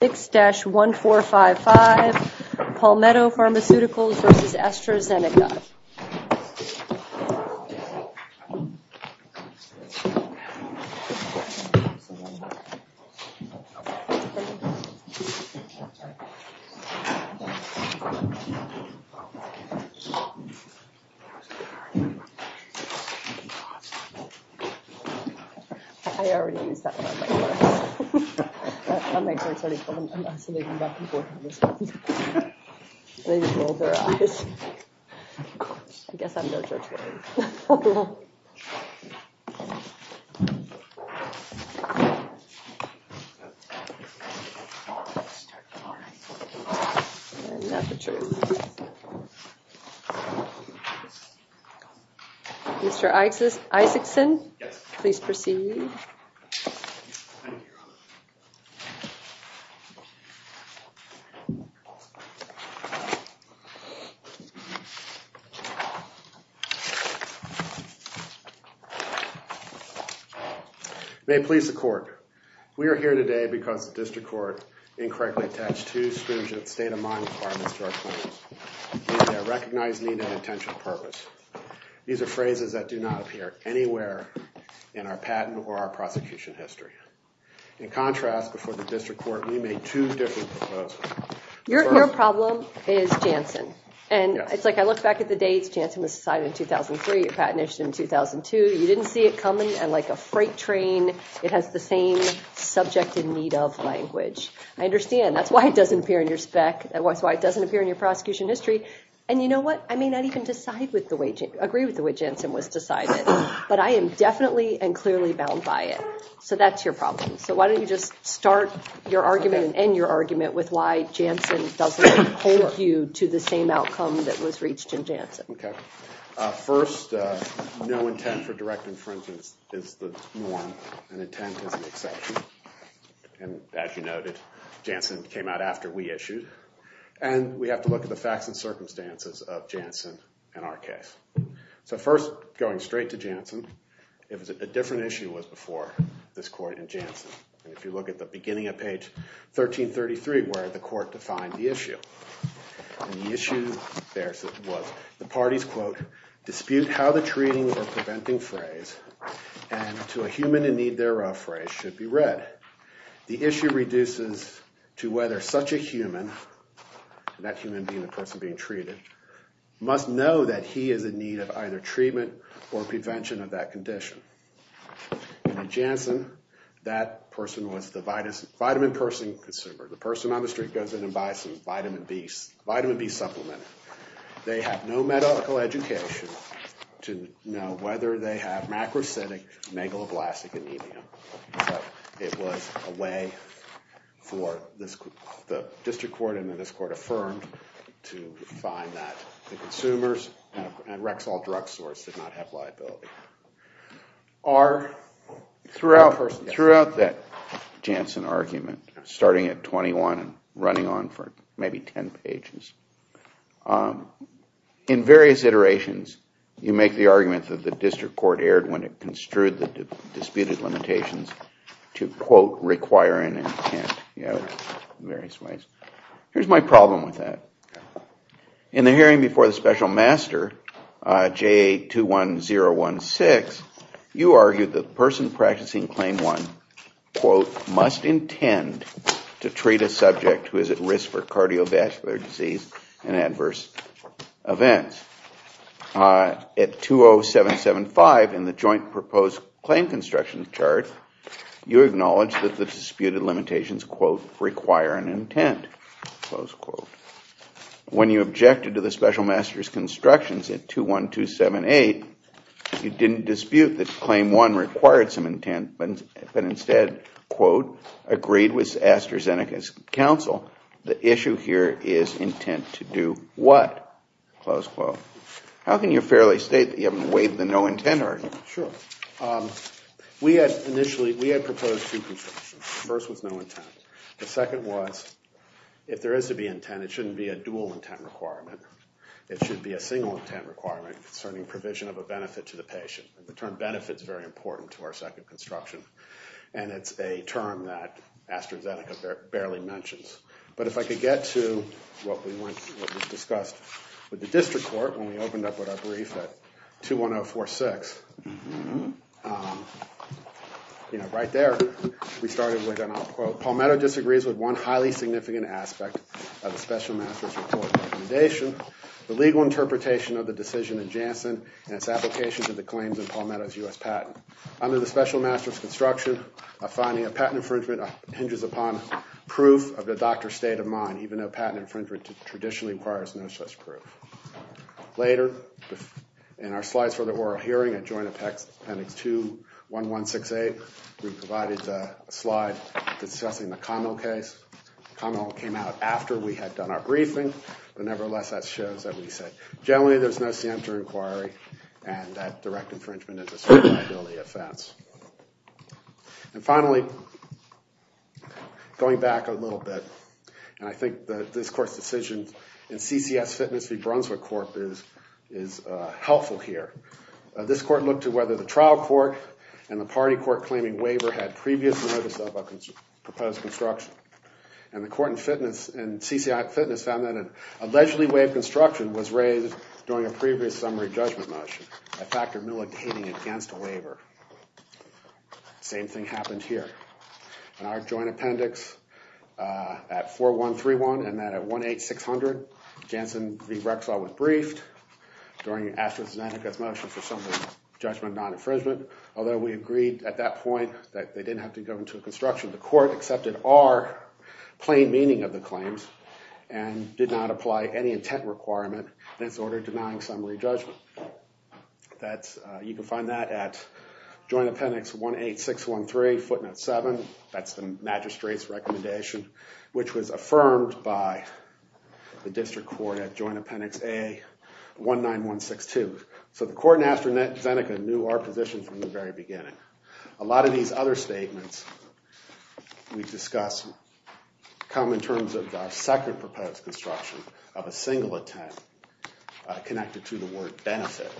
6-1455 Palmetto Pharmaceuticals versus AstraZeneca. Mr. Isaacson, please proceed. May it please the court, we are here today because the district court incorrectly attached two state-of-mind requirements to our claims, either a recognized need or an intention or purpose. These are phrases that do not appear anywhere in our patent or our prosecution history. In contrast, before the district court, we made two different proposals. Your problem is Janssen. And it's like I looked back at the dates, Janssen was signed in 2003, your patent issued in 2002. You didn't see it coming, and like a freight train, it has the same subject in need of language. I understand. That's why it doesn't appear in your spec, that's why it doesn't appear in your prosecution history. And you know what? I may not even agree with the way Janssen was decided, but I am definitely and clearly bound by it. So that's your problem. So why don't you just start your argument and end your argument with why Janssen doesn't hold you to the same outcome that was reached in Janssen. Okay. First, no intent for direct infringement is the norm, and intent is an exception. And as you noted, Janssen came out after we issued. And we have to look at the facts and circumstances of Janssen in our case. So first, going straight to Janssen, it was a different issue was before this court in Janssen. And if you look at the beginning of page 1333, where the court defined the issue, the issue there was the party's, quote, dispute how the treating or preventing phrase and to a human in need thereof phrase should be read. The issue reduces to whether such a human, that human being, the person being treated, must know that he is in need of either treatment or prevention of that condition. And in Janssen, that person was the vitamin person consumer. The person on the street goes in and buys some vitamin B, vitamin B supplement. They have no medical education to know whether they have macrocytic megaloblastic anemia. It was a way for the district court and the district court affirmed to find that the consumers and Rexall Drug Source did not have liability. Throughout that Janssen argument, starting at 21 and running on for maybe 10 pages, in various iterations, you make the argument that the district court erred when it construed the disputed limitations to, quote, require an intent in various ways. Here's my problem with that. In the hearing before the special master, JA 21016, you argued that the person practicing claim one, quote, must intend to treat a subject who is at risk for cardiovascular disease and adverse events. At 20775 in the joint proposed claim construction chart, you acknowledged that the disputed limitations, quote, require an intent, close quote. When you objected to the special master's constructions at 21278, you didn't dispute that claim one required some intent, but instead, quote, agreed with AstraZeneca's counsel, the issue here is intent to do what, close quote. How can you fairly state that you haven't waived the no intent argument? Sure. We had initially, we had proposed two constructions. The first was no intent. The second was, if there is to be intent, it shouldn't be a dual intent requirement. It should be a single intent requirement concerning provision of a benefit to the patient. And the term benefit is very important to our second construction. And it's a term that AstraZeneca barely mentions. But if I could get to what was discussed with the district court when we opened up with our brief at 21046, right there, we started with, and I'll quote, Palmetto disagrees with one highly significant aspect of the special master's report recommendation, the legal interpretation of the decision in Janssen and its application to the claims in Palmetto's US patent. Under the special master's construction, finding a patent infringement hinges upon proof of the doctor's state of mind, even though patent infringement traditionally requires no such proof. Later, in our slides for the oral hearing at Joint Appendix 21168, we provided a slide discussing the Connell case. Connell came out after we had done our briefing, but nevertheless, that shows that we said generally there's no center inquiry and that direct infringement is a certain liability offense. And finally, going back a little bit, and I think that this court's decision in CCS Fitness v. Brunswick Corp. is helpful here. This court looked at whether the trial court and the party court claiming waiver had previous notice of a proposed construction. And the court in fitness, in CCS Fitness, found that an allegedly waived construction was raised during a previous summary judgment motion, a factor militating against a waiver. Same thing happened here. In our joint appendix at 4131 and then at 18600, Janssen v. Rexall was briefed during Ashton Seneca's motion for summary judgment non-infringement. Although we agreed at that point that they didn't have to go into a construction, the order denying summary judgment. You can find that at joint appendix 18613, footnote 7. That's the magistrate's recommendation, which was affirmed by the district court at joint appendix A19162. So the court in Ashton Seneca knew our position from the very beginning. A lot of these other statements we've discussed come in terms of the second proposed construction of a single attempt connected to the word benefit.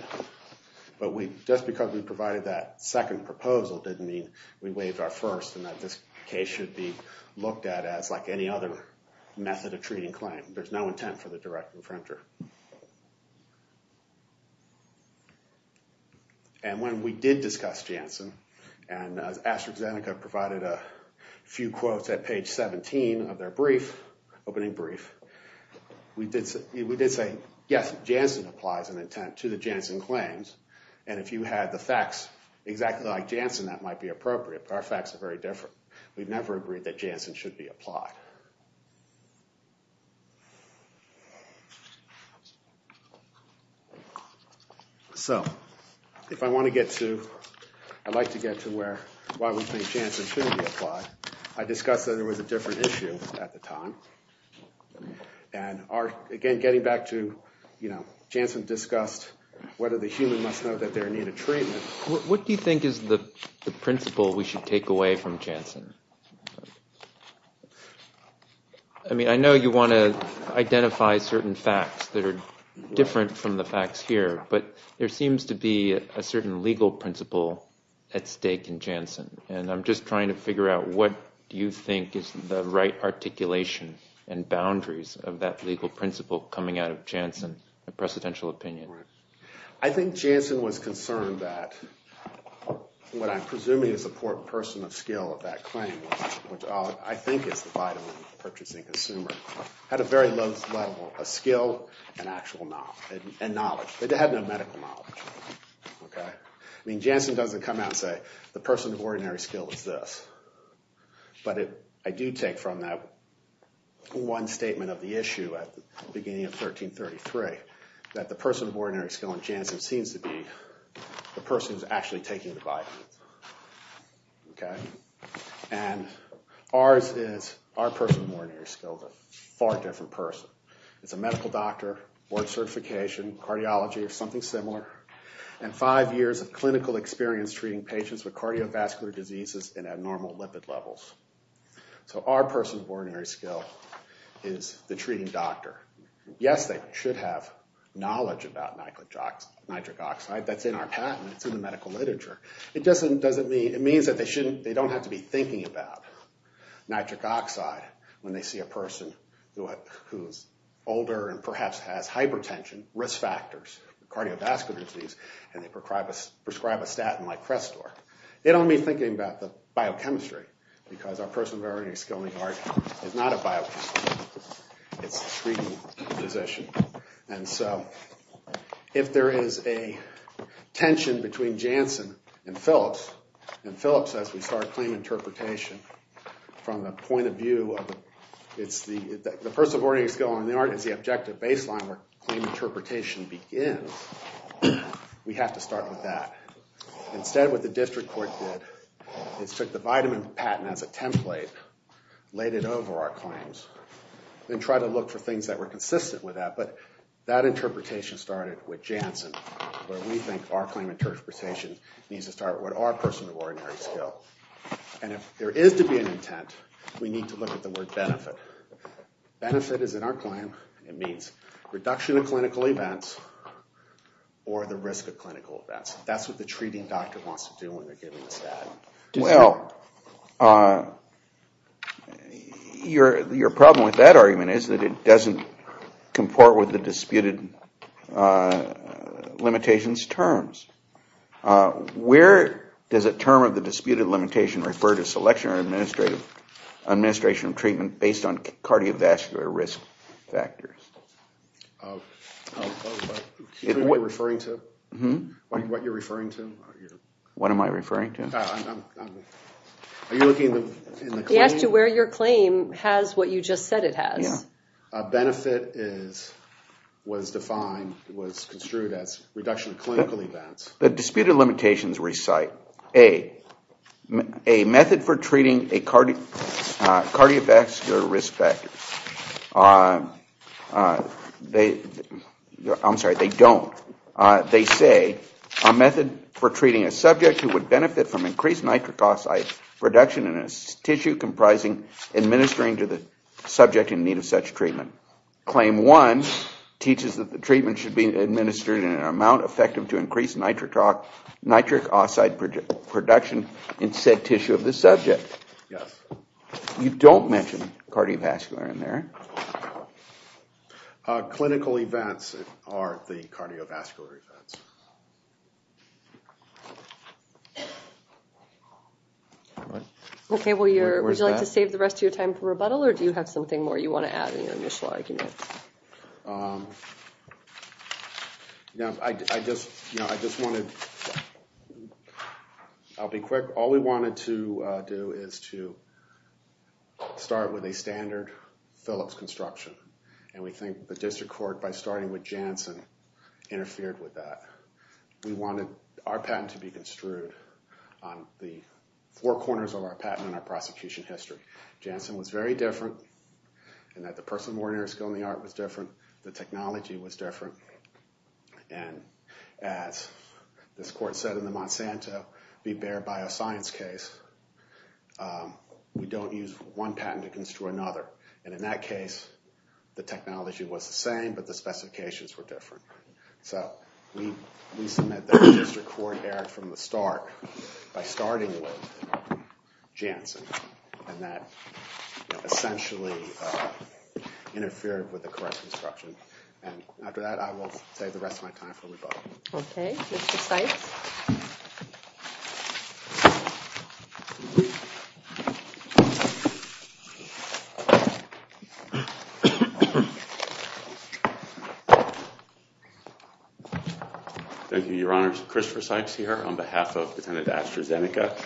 But just because we provided that second proposal didn't mean we waived our first and that this case should be looked at as like any other method of treating claim. There's no intent for the direct infringer. And when we did discuss Janssen, and Ashton Seneca provided a few quotes at page 17 of their opening brief, we did say, yes, Janssen applies an intent to the Janssen claims. And if you had the facts exactly like Janssen, that might be appropriate. But our facts are very different. We've never agreed that Janssen should be applied. So if I want to get to, I'd like to get to why we think Janssen should be applied. I discussed that there was a different issue at the time. And again, getting back to Janssen discussed whether the human must know that they need a treatment. What do you think is the principle we should take away from Janssen? I mean, I know you want to identify certain facts that are different from the facts here. But there seems to be a certain legal principle at stake in Janssen. And I'm just trying to figure out what do you think is the right articulation and boundaries of that legal principle coming out of Janssen, a precedential opinion. I think Janssen was concerned that what I'm presuming is the person of skill of that claim, which I think is the vital purchasing consumer, had a very low level of skill and knowledge. It had no medical knowledge. I mean, Janssen doesn't come out and say, the person of ordinary skill is this. But I do take from that one statement of the issue at the beginning of 1333 that the person of ordinary skill in Janssen seems to be the person who's actually taking the vitamins. And ours is, our person of ordinary skill is a far different person. It's a medical doctor, board certification, cardiology or something similar, and five years of clinical experience treating patients with cardiovascular diseases and abnormal lipid levels. So our person of ordinary skill is the treating doctor. Yes, they should have knowledge about nitric oxide. That's in our patent. It's in the medical literature. It means that they don't have to be thinking about nitric oxide when they see a person who's older and perhaps has hypertension, risk factors, cardiovascular disease, and they prescribe a statin like Crestor. They don't need thinking about the biochemistry, because our person of ordinary skill is not a biochemist. It's a treating physician. And so if there is a tension between Janssen and Phillips, and Phillips says we start claim interpretation from the point of view of, the person of ordinary skill in the art is the objective baseline where claim interpretation begins, we have to start with that. Instead, what the district court did is took the vitamin patent as a template, laid it over our claims, and tried to look for things that were consistent with that. But that interpretation started with Janssen, where we think our claim interpretation needs to start with our person of ordinary skill. And if there is to be an intent, we need to look at the word benefit. Benefit is in our claim. It means reduction of clinical events, or the risk of clinical events. That's what the treating doctor wants to do when they're giving this ad. Well, your problem with that argument is that it doesn't comport with the disputed, limitations terms. Where does a term of the disputed limitation refer to selection or administration of treatment, based on cardiovascular risk factors? What are you referring to? What am I referring to? Are you looking in the claim? He asked you where your claim has what you just said it has. Benefit was defined, was construed as reduction of clinical events. The disputed limitations recite, A, a method for treating a cardiovascular risk factor. I'm sorry, they don't. They say, a method for treating a subject who would benefit from increased nitric oxide production in a tissue comprising administering to the subject in need of such treatment. Claim one teaches that the treatment should be administered in an amount effective to increase nitric oxide production in said tissue of the subject. Yes. You don't mention cardiovascular in there. Clinical events are the cardiovascular events. All right. OK, would you like to save the rest of your time for rebuttal, or do you have something more you want to add in your initial argument? I just wanted, I'll be quick. All we wanted to do is to start with a standard Phillips construction. And we think the district court, by starting with Janssen, interfered with that. We wanted our patent to be construed on the four corners of our patent and our prosecution history. Janssen was very different, and that the person, ordinary skill in the art was different. The technology was different. And as this court said in the Monsanto v. Bayer bioscience case, we don't use one patent to construe another. And in that case, the technology was the same, but the specifications were different. So we submit that the district court erred from the start by starting with Janssen. And that essentially interfered with the correct construction. And after that, I will save the rest of my time for rebuttal. OK, Mr. Sykes. Thank you, Your Honor. Christopher Sykes here on behalf of Defendant AstraZeneca.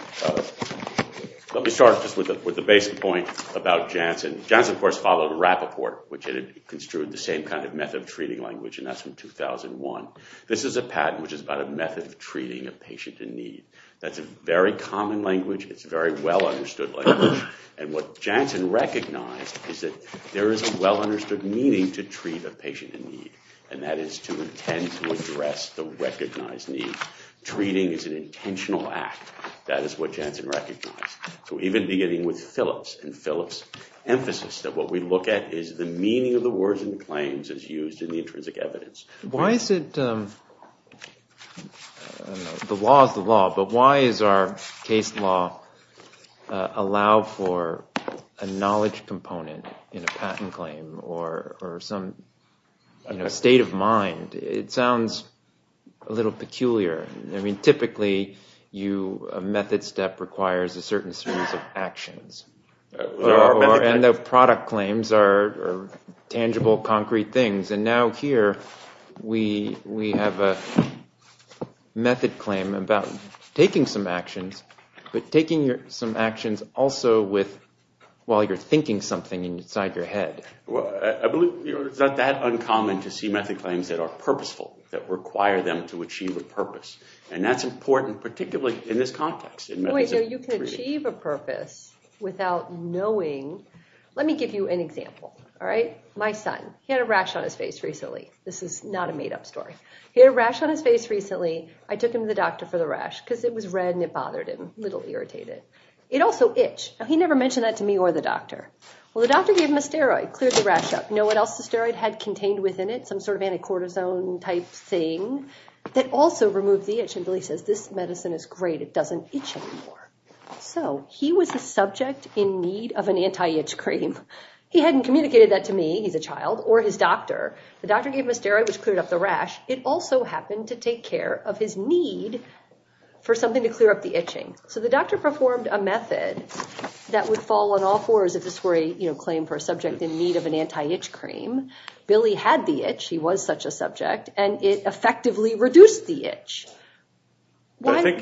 Let me start just with the basic point about Janssen. Janssen, of course, followed Rappaport, which had construed the same kind of method of treating language. And that's from 2001. This is a patent which is about a method of treating a patient in need. That's a very common language. It's a very well understood language. And what Janssen recognized is that there is a well understood meaning to treat a patient in need. And that is to intend to address the recognized need. Treating is an intentional act. That is what Janssen recognized. So even beginning with Phillips and Phillips' emphasis, that what we look at is the meaning of the words and claims as used in the intrinsic evidence. The law is the law. But why does our case law allow for a knowledge component in a patent claim or some state of mind? It sounds a little peculiar. Typically, a method step requires a certain series of actions. And the product claims are tangible, concrete things. And now here, we have a method claim about taking some actions, but taking some actions also while you're thinking something inside your head. It's not that uncommon to see method claims that are purposeful, that require them to achieve a purpose. And that's important, particularly in this context. You can achieve a purpose without knowing. Let me give you an example. My son, he had a rash on his face recently. This is not a made-up story. He had a rash on his face recently. I took him to the doctor for the rash because it was red and it bothered him. A little irritated. It also itched. Now, he never mentioned that to me or the doctor. Well, the doctor gave him a steroid, cleared the rash up. You know what else the steroid had contained within it? Some sort of anti-cortisone type thing that also removed the itch. And Billy says, this medicine is great. It doesn't itch anymore. So he was a subject in need of an anti-itch cream. He hadn't communicated that to me, he's a child, or his doctor. The doctor gave him a steroid, which cleared up the rash. It also happened to take care of his need for something to clear up the itching. So the doctor performed a method that would fall on all fours if this were a claim for a subject in need of an anti-itch cream. Billy had the itch, he was such a subject, and it effectively reduced the itch. And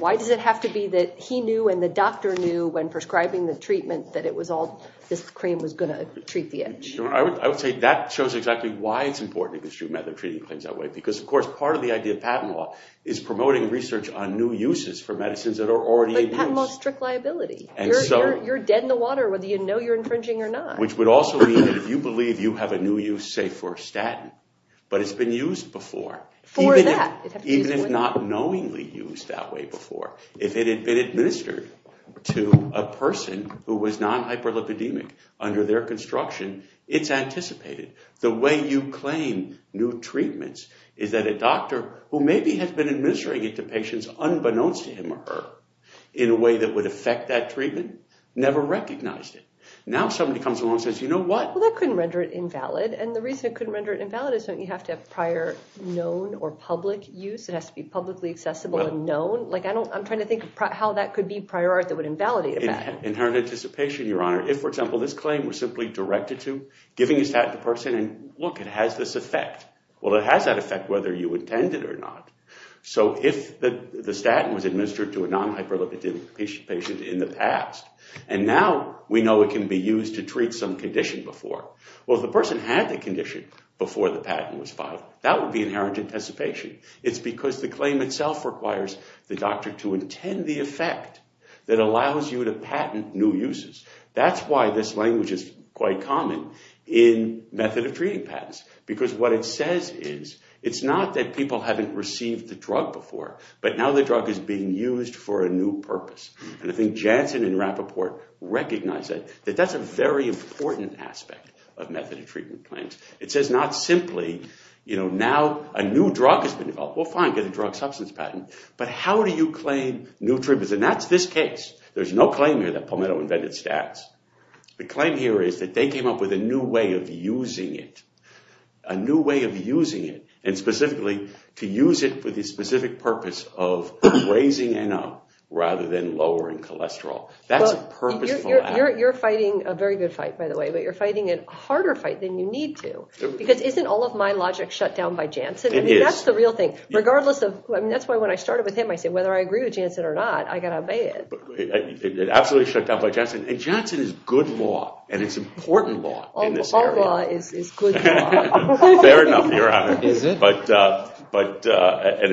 why does it have to be that he knew and the doctor knew when prescribing the treatment that this cream was going to treat the itch? I would say that shows exactly why it's important to construe method of treating claims that way. Because, of course, part of the idea of patent law is promoting research on new uses for medicines that are already in use. But patent law is strict liability. You're dead in the water whether you know you're infringing or not. Which would also mean that if you believe you have a new use, say for statin, but it's been used before. For that. Even if not knowingly used that way before. If it had been administered to a person who was non-hyperlipidemic under their construction, it's anticipated. The way you claim new treatments is that a doctor who maybe has been administering it to patients unbeknownst to him or her in a way that would affect that treatment, never recognized it. Now somebody comes along and says, you know what? Well, that couldn't render it invalid. And the reason it couldn't render it invalid is you have to have prior known or public use. It has to be publicly accessible and known. I'm trying to think of how that could be prior art that would invalidate a patent. Inherent anticipation, Your Honor. If, for example, this claim was simply directed to giving a statin to a person and look, it has this effect. Well, it has that effect whether you intend it or not. So if the statin was administered to a non-hyperlipidemic patient in the past, and now we know it can be used to treat some condition before. Well, if the person had the condition before the patent was filed, that would be inherent anticipation. It's because the claim itself requires the doctor to intend the effect that allows you to patent new uses. That's why this language is quite common in method of treating patents. Because what it says is, it's not that people haven't received the drug before, but now the drug is being used for a new purpose. And I think Janssen and Rappaport recognize that that's a very important aspect of method of treatment claims. It says not simply, now a new drug has been developed. Well, fine, get a drug substance patent. But how do you claim new treatments? And that's this case. There's no claim here that Palmetto invented stats. The claim here is that they came up with a new way of using it. A new way of using it. And specifically, to use it for the specific purpose of raising NO rather than lowering cholesterol. That's a purposeful act. You're fighting a very good fight, by the way. But you're fighting a harder fight than you need to. Because isn't all of my logic shut down by Janssen? That's the real thing. That's why when I started with him, I said, whether I agree with Janssen or not, I've got to obey it. It absolutely is shut down by Janssen. And Janssen is good law. And it's important law in this area. All law is good law. Fair enough, Your Honor. And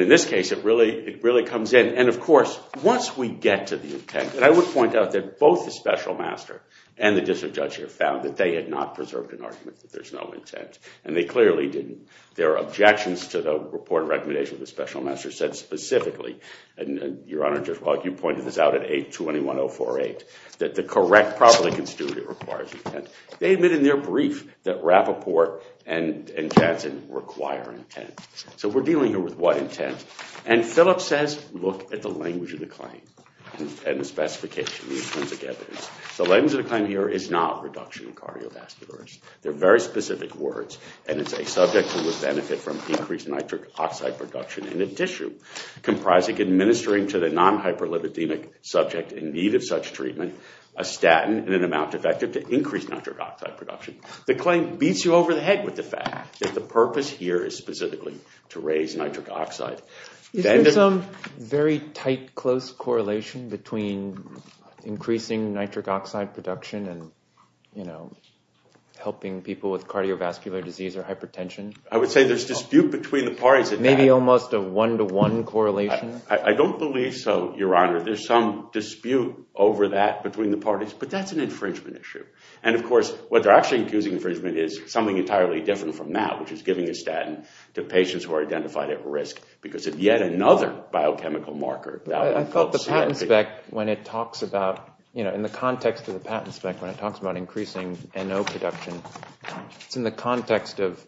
in this case, it really comes in. And of course, once we get to the intent, I would point out that both the special master and the district judge here found that they had not preserved an argument that there's no intent. And they clearly didn't. Their objections to the report and recommendation of the special master said specifically, and Your Honor, you pointed this out at 821-048, that the correct, properly constituted requires intent. They admit in their brief that Rappaport and Janssen require intent. So we're dealing here with what intent? And Phillips says, look at the language of the claim and the specification, the intrinsic evidence. The language of the claim here is not reduction in cardiovascular risk. They're very specific words. And it's a subject who would benefit from increased nitric oxide production in a tissue comprising administering to the non-hyperlipidemic subject in need of such treatment a statin in an amount effective to increase nitric oxide production. The claim beats you over the head with the fact that the purpose here is specifically to raise nitric oxide. Isn't there some very tight, close correlation between increasing nitric oxide production and helping people with cardiovascular disease or hypertension? I would say there's dispute between the parties. Maybe almost a one-to-one correlation? I don't believe so, Your Honor. There's some dispute over that between the parties. But that's an infringement issue. And of course, what they're actually accusing infringement is something entirely different from that, which is giving a statin to patients who are identified at risk because of yet another biochemical marker. I thought the patent spec, when it talks about, you know, in the context of the patent spec, when it talks about increasing NO production, it's in the context of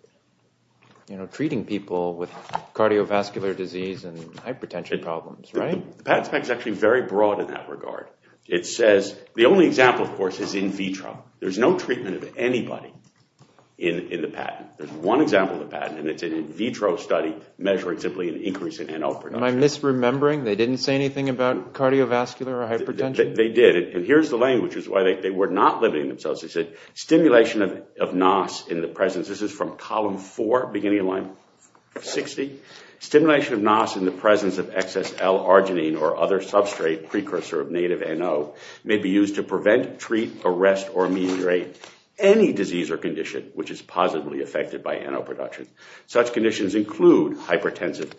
treating people with cardiovascular disease and hypertension problems, right? The patent spec is actually very broad in that regard. It says, the only example, of course, is in vitro. There's no treatment of anybody in the patent. There's one example of the patent, and it's an in vitro study measuring simply an increase in NO production. Am I misremembering? They didn't say anything about cardiovascular or hypertension? They did. And here's the language, which is why they were not limiting themselves. They said, stimulation of NOS in the presence. This is from column four, beginning of line 60. Stimulation of NOS in the presence of excess L-arginine or other substrate precursor of native NO may be used to prevent, treat, arrest, or ameliorate any disease or condition which is positively affected by NO production. Such conditions include hypertensive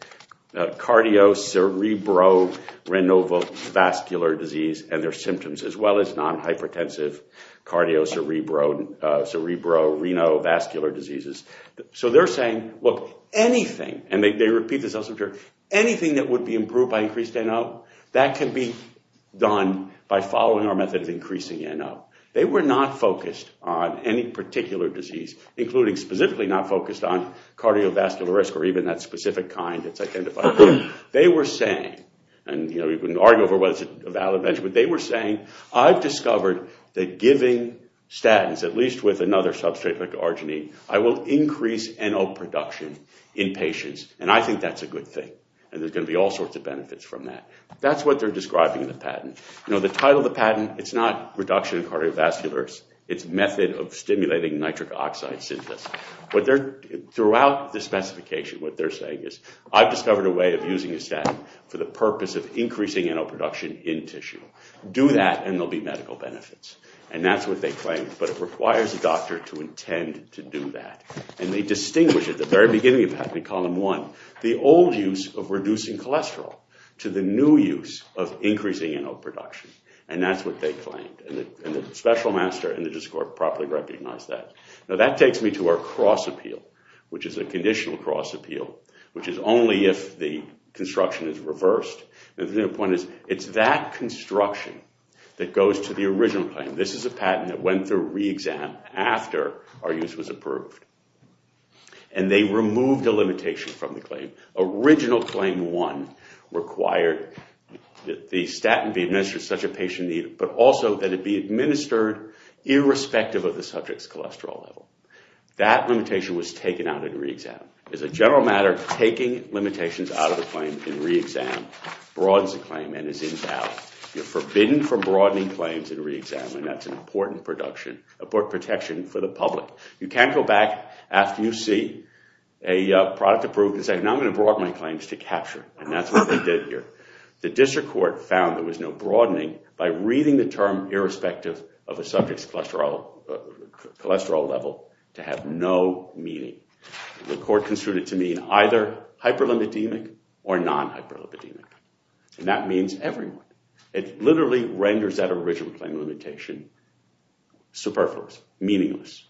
cardiocerebro-renovovascular disease and their symptoms, as well as non-hypertensive cardiocerebro-renovascular diseases. So they're saying, look, anything, and they repeat this elsewhere, anything that would be improved by increased NO, that can be done by following our method of increasing NO. They were not focused on any particular disease, including specifically not focused on cardiovascular risk or even that specific kind that's identified. They were saying, and we can argue over whether it's a valid mention, but they were saying, I've discovered that giving statins, at least with another substrate like arginine, I will increase NO production in patients. And I think that's a good thing. And there's going to be all sorts of benefits from that. That's what they're describing in the patent. The title of the patent, it's not reduction in cardiovascular risk. It's method of stimulating nitric oxide synthesis. Throughout the specification, what they're saying is, I've discovered a way of using a statin for the purpose of increasing NO production in tissue. Do that, and there'll be medical benefits. And that's what they claim. But it requires a doctor to intend to do that. And they distinguish at the very beginning of the patent, in column one, the old use of reducing cholesterol to the new use of increasing NO production. And that's what they claimed. And the special master in the discord properly recognized that. Now that takes me to our cross appeal, which is a conditional cross appeal, which is only if the construction is reversed. The point is, it's that construction that goes to the original claim. This is a patent that went through re-exam after our use was approved. And they removed a limitation from the claim. Original claim one required that the statin be administered to such a patient, but also that it be administered irrespective of the subject's cholesterol level. That limitation was taken out in re-exam. As a general matter, taking limitations out of the claim in re-exam broadens the claim and is invalid. You're forbidden from broadening claims in re-exam. And that's an important protection for the public. You can't go back after you see a product approved and say, now I'm going to broaden my claims to capture. And that's what they did here. The district court found there was no broadening by reading the term irrespective of a subject's cholesterol level to have no meaning. The court construed it to mean either hyperlipidemic or non-hyperlipidemic. And that means everyone. It literally renders that original claim limitation superfluous, meaningless.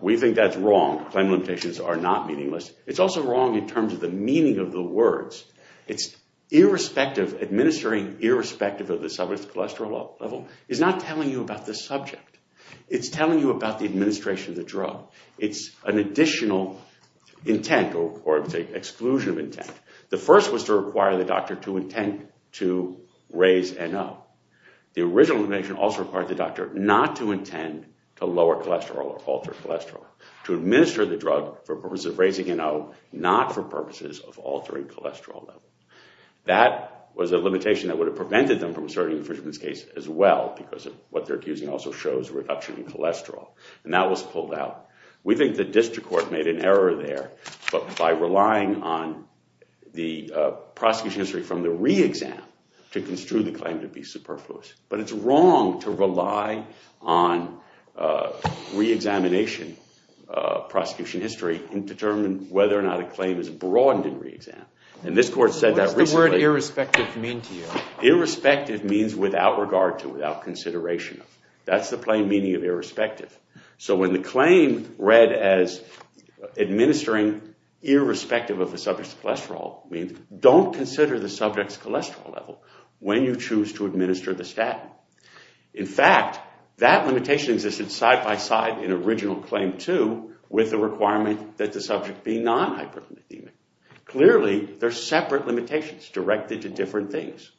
We think that's wrong. Claim limitations are not meaningless. It's also wrong in terms of the meaning of the words. It's irrespective, administering irrespective of the subject's cholesterol level is not telling you about the subject. It's telling you about the administration of the drug. It's an additional intent or exclusion of intent. The first was to require the doctor to intend to raise NO. The original limitation also required the doctor not to intend to lower cholesterol or alter cholesterol. To administer the drug for purposes of raising NO, not for purposes of altering cholesterol level. That was a limitation that would have prevented them from asserting in Frishman's case as well, because what they're accusing also shows a reduction in cholesterol. And that was pulled out. We think the district court made an error there by relying on the prosecution history from the re-exam to construe the claim to be superfluous. But it's wrong to rely on re-examination prosecution history to determine whether or not a claim is broadened in re-exam. And this court said that recently. What does the word irrespective mean to you? Irrespective means without regard to, without consideration of. That's the plain meaning of irrespective. So when the claim read as administering irrespective of the subject's cholesterol means don't consider the subject's cholesterol level when you choose to administer the statin. In fact, that limitation existed side by side in original claim 2 with the requirement that the subject be non-hyperlipidemic. Clearly, they're separate limitations directed to different things.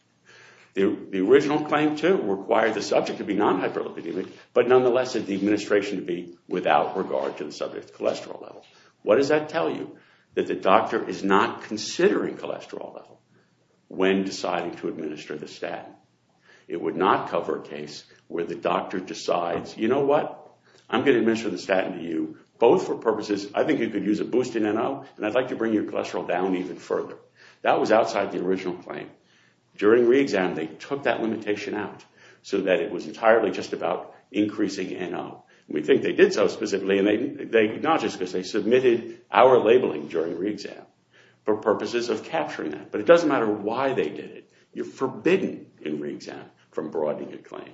The original claim 2 required the subject to be non-hyperlipidemic, but nonetheless it requested the administration to be without regard to the subject's cholesterol level. What does that tell you? That the doctor is not considering cholesterol level when deciding to administer the statin. It would not cover a case where the doctor decides, you know what? I'm going to administer the statin to you both for purposes, I think you could use a boost in NO, and I'd like to bring your cholesterol down even further. That was outside the original claim. During re-exam, they took that limitation out so that it was entirely just about increasing NO. We think they did so specifically, and not just because they submitted our labeling during re-exam for purposes of capturing that, but it doesn't matter why they did it. You're forbidden in re-exam from broadening a claim,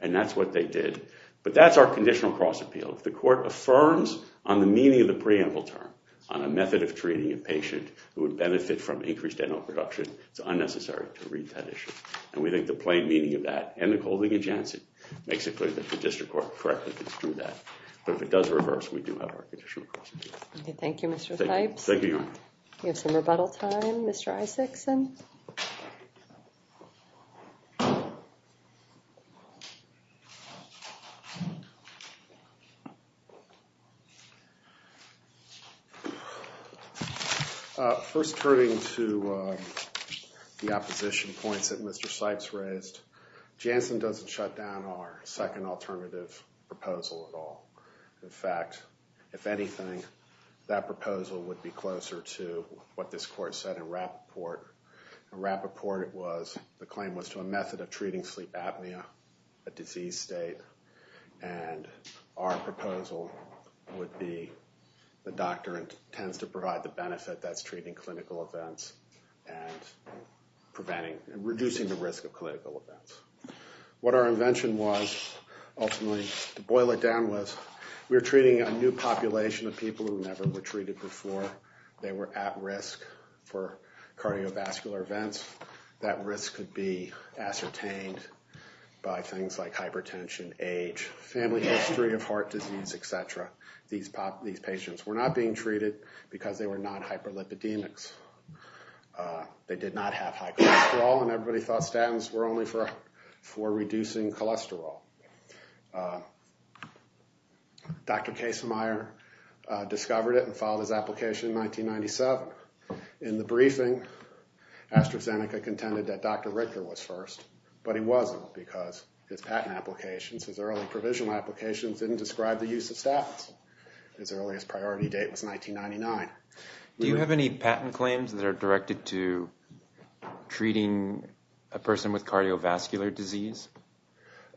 and that's what they did. But that's our conditional cross-appeal. If the court affirms on the meaning of the preamble term on a method of treating a patient who would benefit from increased NO production, it's unnecessary to read that issue. And we think the plain meaning of that, and the holding of Janssen, makes it clear that the district court correctly did that. But if it does reverse, we do have our conditional cross-appeal. Thank you, Mr. Theibs. We have some rebuttal time. Mr. Isakson? First, turning to the opposition points that Mr. Sypes raised, Janssen doesn't shut down our second alternative proposal at all. In fact, if anything, that proposal I think that's a good point. I think that's a good point. In Rappaport, the claim was to a method of treating sleep apnea, a diseased state. And our proposal would be the doctrine tends to provide the benefit that's treating clinical events and preventing and reducing the risk of clinical events. What our invention was, ultimately, to boil it down, was we were treating a new population of people who never were treated before. They were at risk for cardiovascular events. That risk could be ascertained by things like hypertension, age, family history of heart disease, etc. These patients were not being treated because they were not hyperlipidemics. They did not have high cholesterol and everybody thought statins were only for reducing cholesterol. Dr. Casemeyer discovered it and filed his application in 1997. In the briefing, AstraZeneca contended that Dr. Richter was first. But he wasn't because his early provisional applications didn't describe the use of statins. His earliest priority date was 1999. Do you have any patent claims that are directed to treating a person with cardiovascular disease?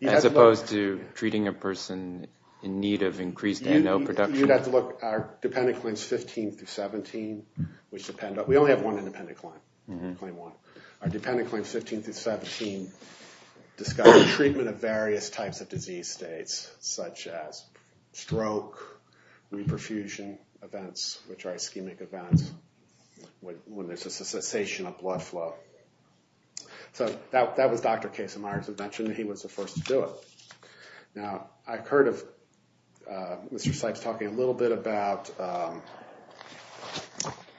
As opposed to treating a person in need of increased NO production? Our dependent claims 15-17 We only have one independent claim. Our dependent claims 15-17 discuss the treatment of various types of disease states such as stroke, reperfusion events which are ischemic events when there's a cessation of blood flow. That was Dr. Casemeyer who mentioned he was the first to do it. I've heard of Mr. Sipes talking a little bit about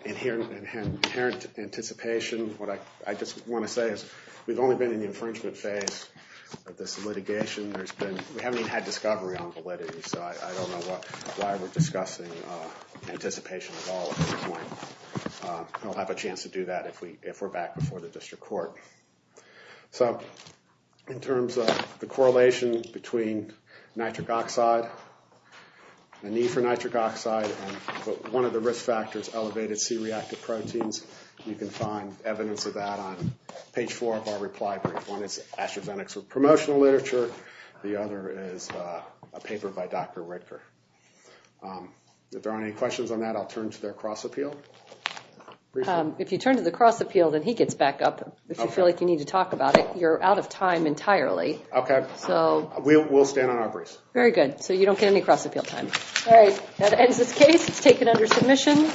inherent anticipation. We've only been in the infringement phase of this litigation. We haven't even had discovery on validity so I don't know why we're discussing anticipation at all at this point. We'll have a chance to do that if we're back before the district court. In terms of the correlation between nitric oxide and the need for nitric oxide and one of the risk factors, elevated C-reactive proteins, you can find evidence of that on page 4 of our reply brief. One is AstraZeneca's promotional literature. The other is a paper by Dr. Richter. If there aren't any questions on that, I'll turn to their cross appeal. If you turn to the cross appeal, then he gets back up if you feel like you need to talk about it. You're out of time entirely. We'll stand on our briefs. Very good. So you don't get any cross appeal time. That ends this case. It's taken under submission.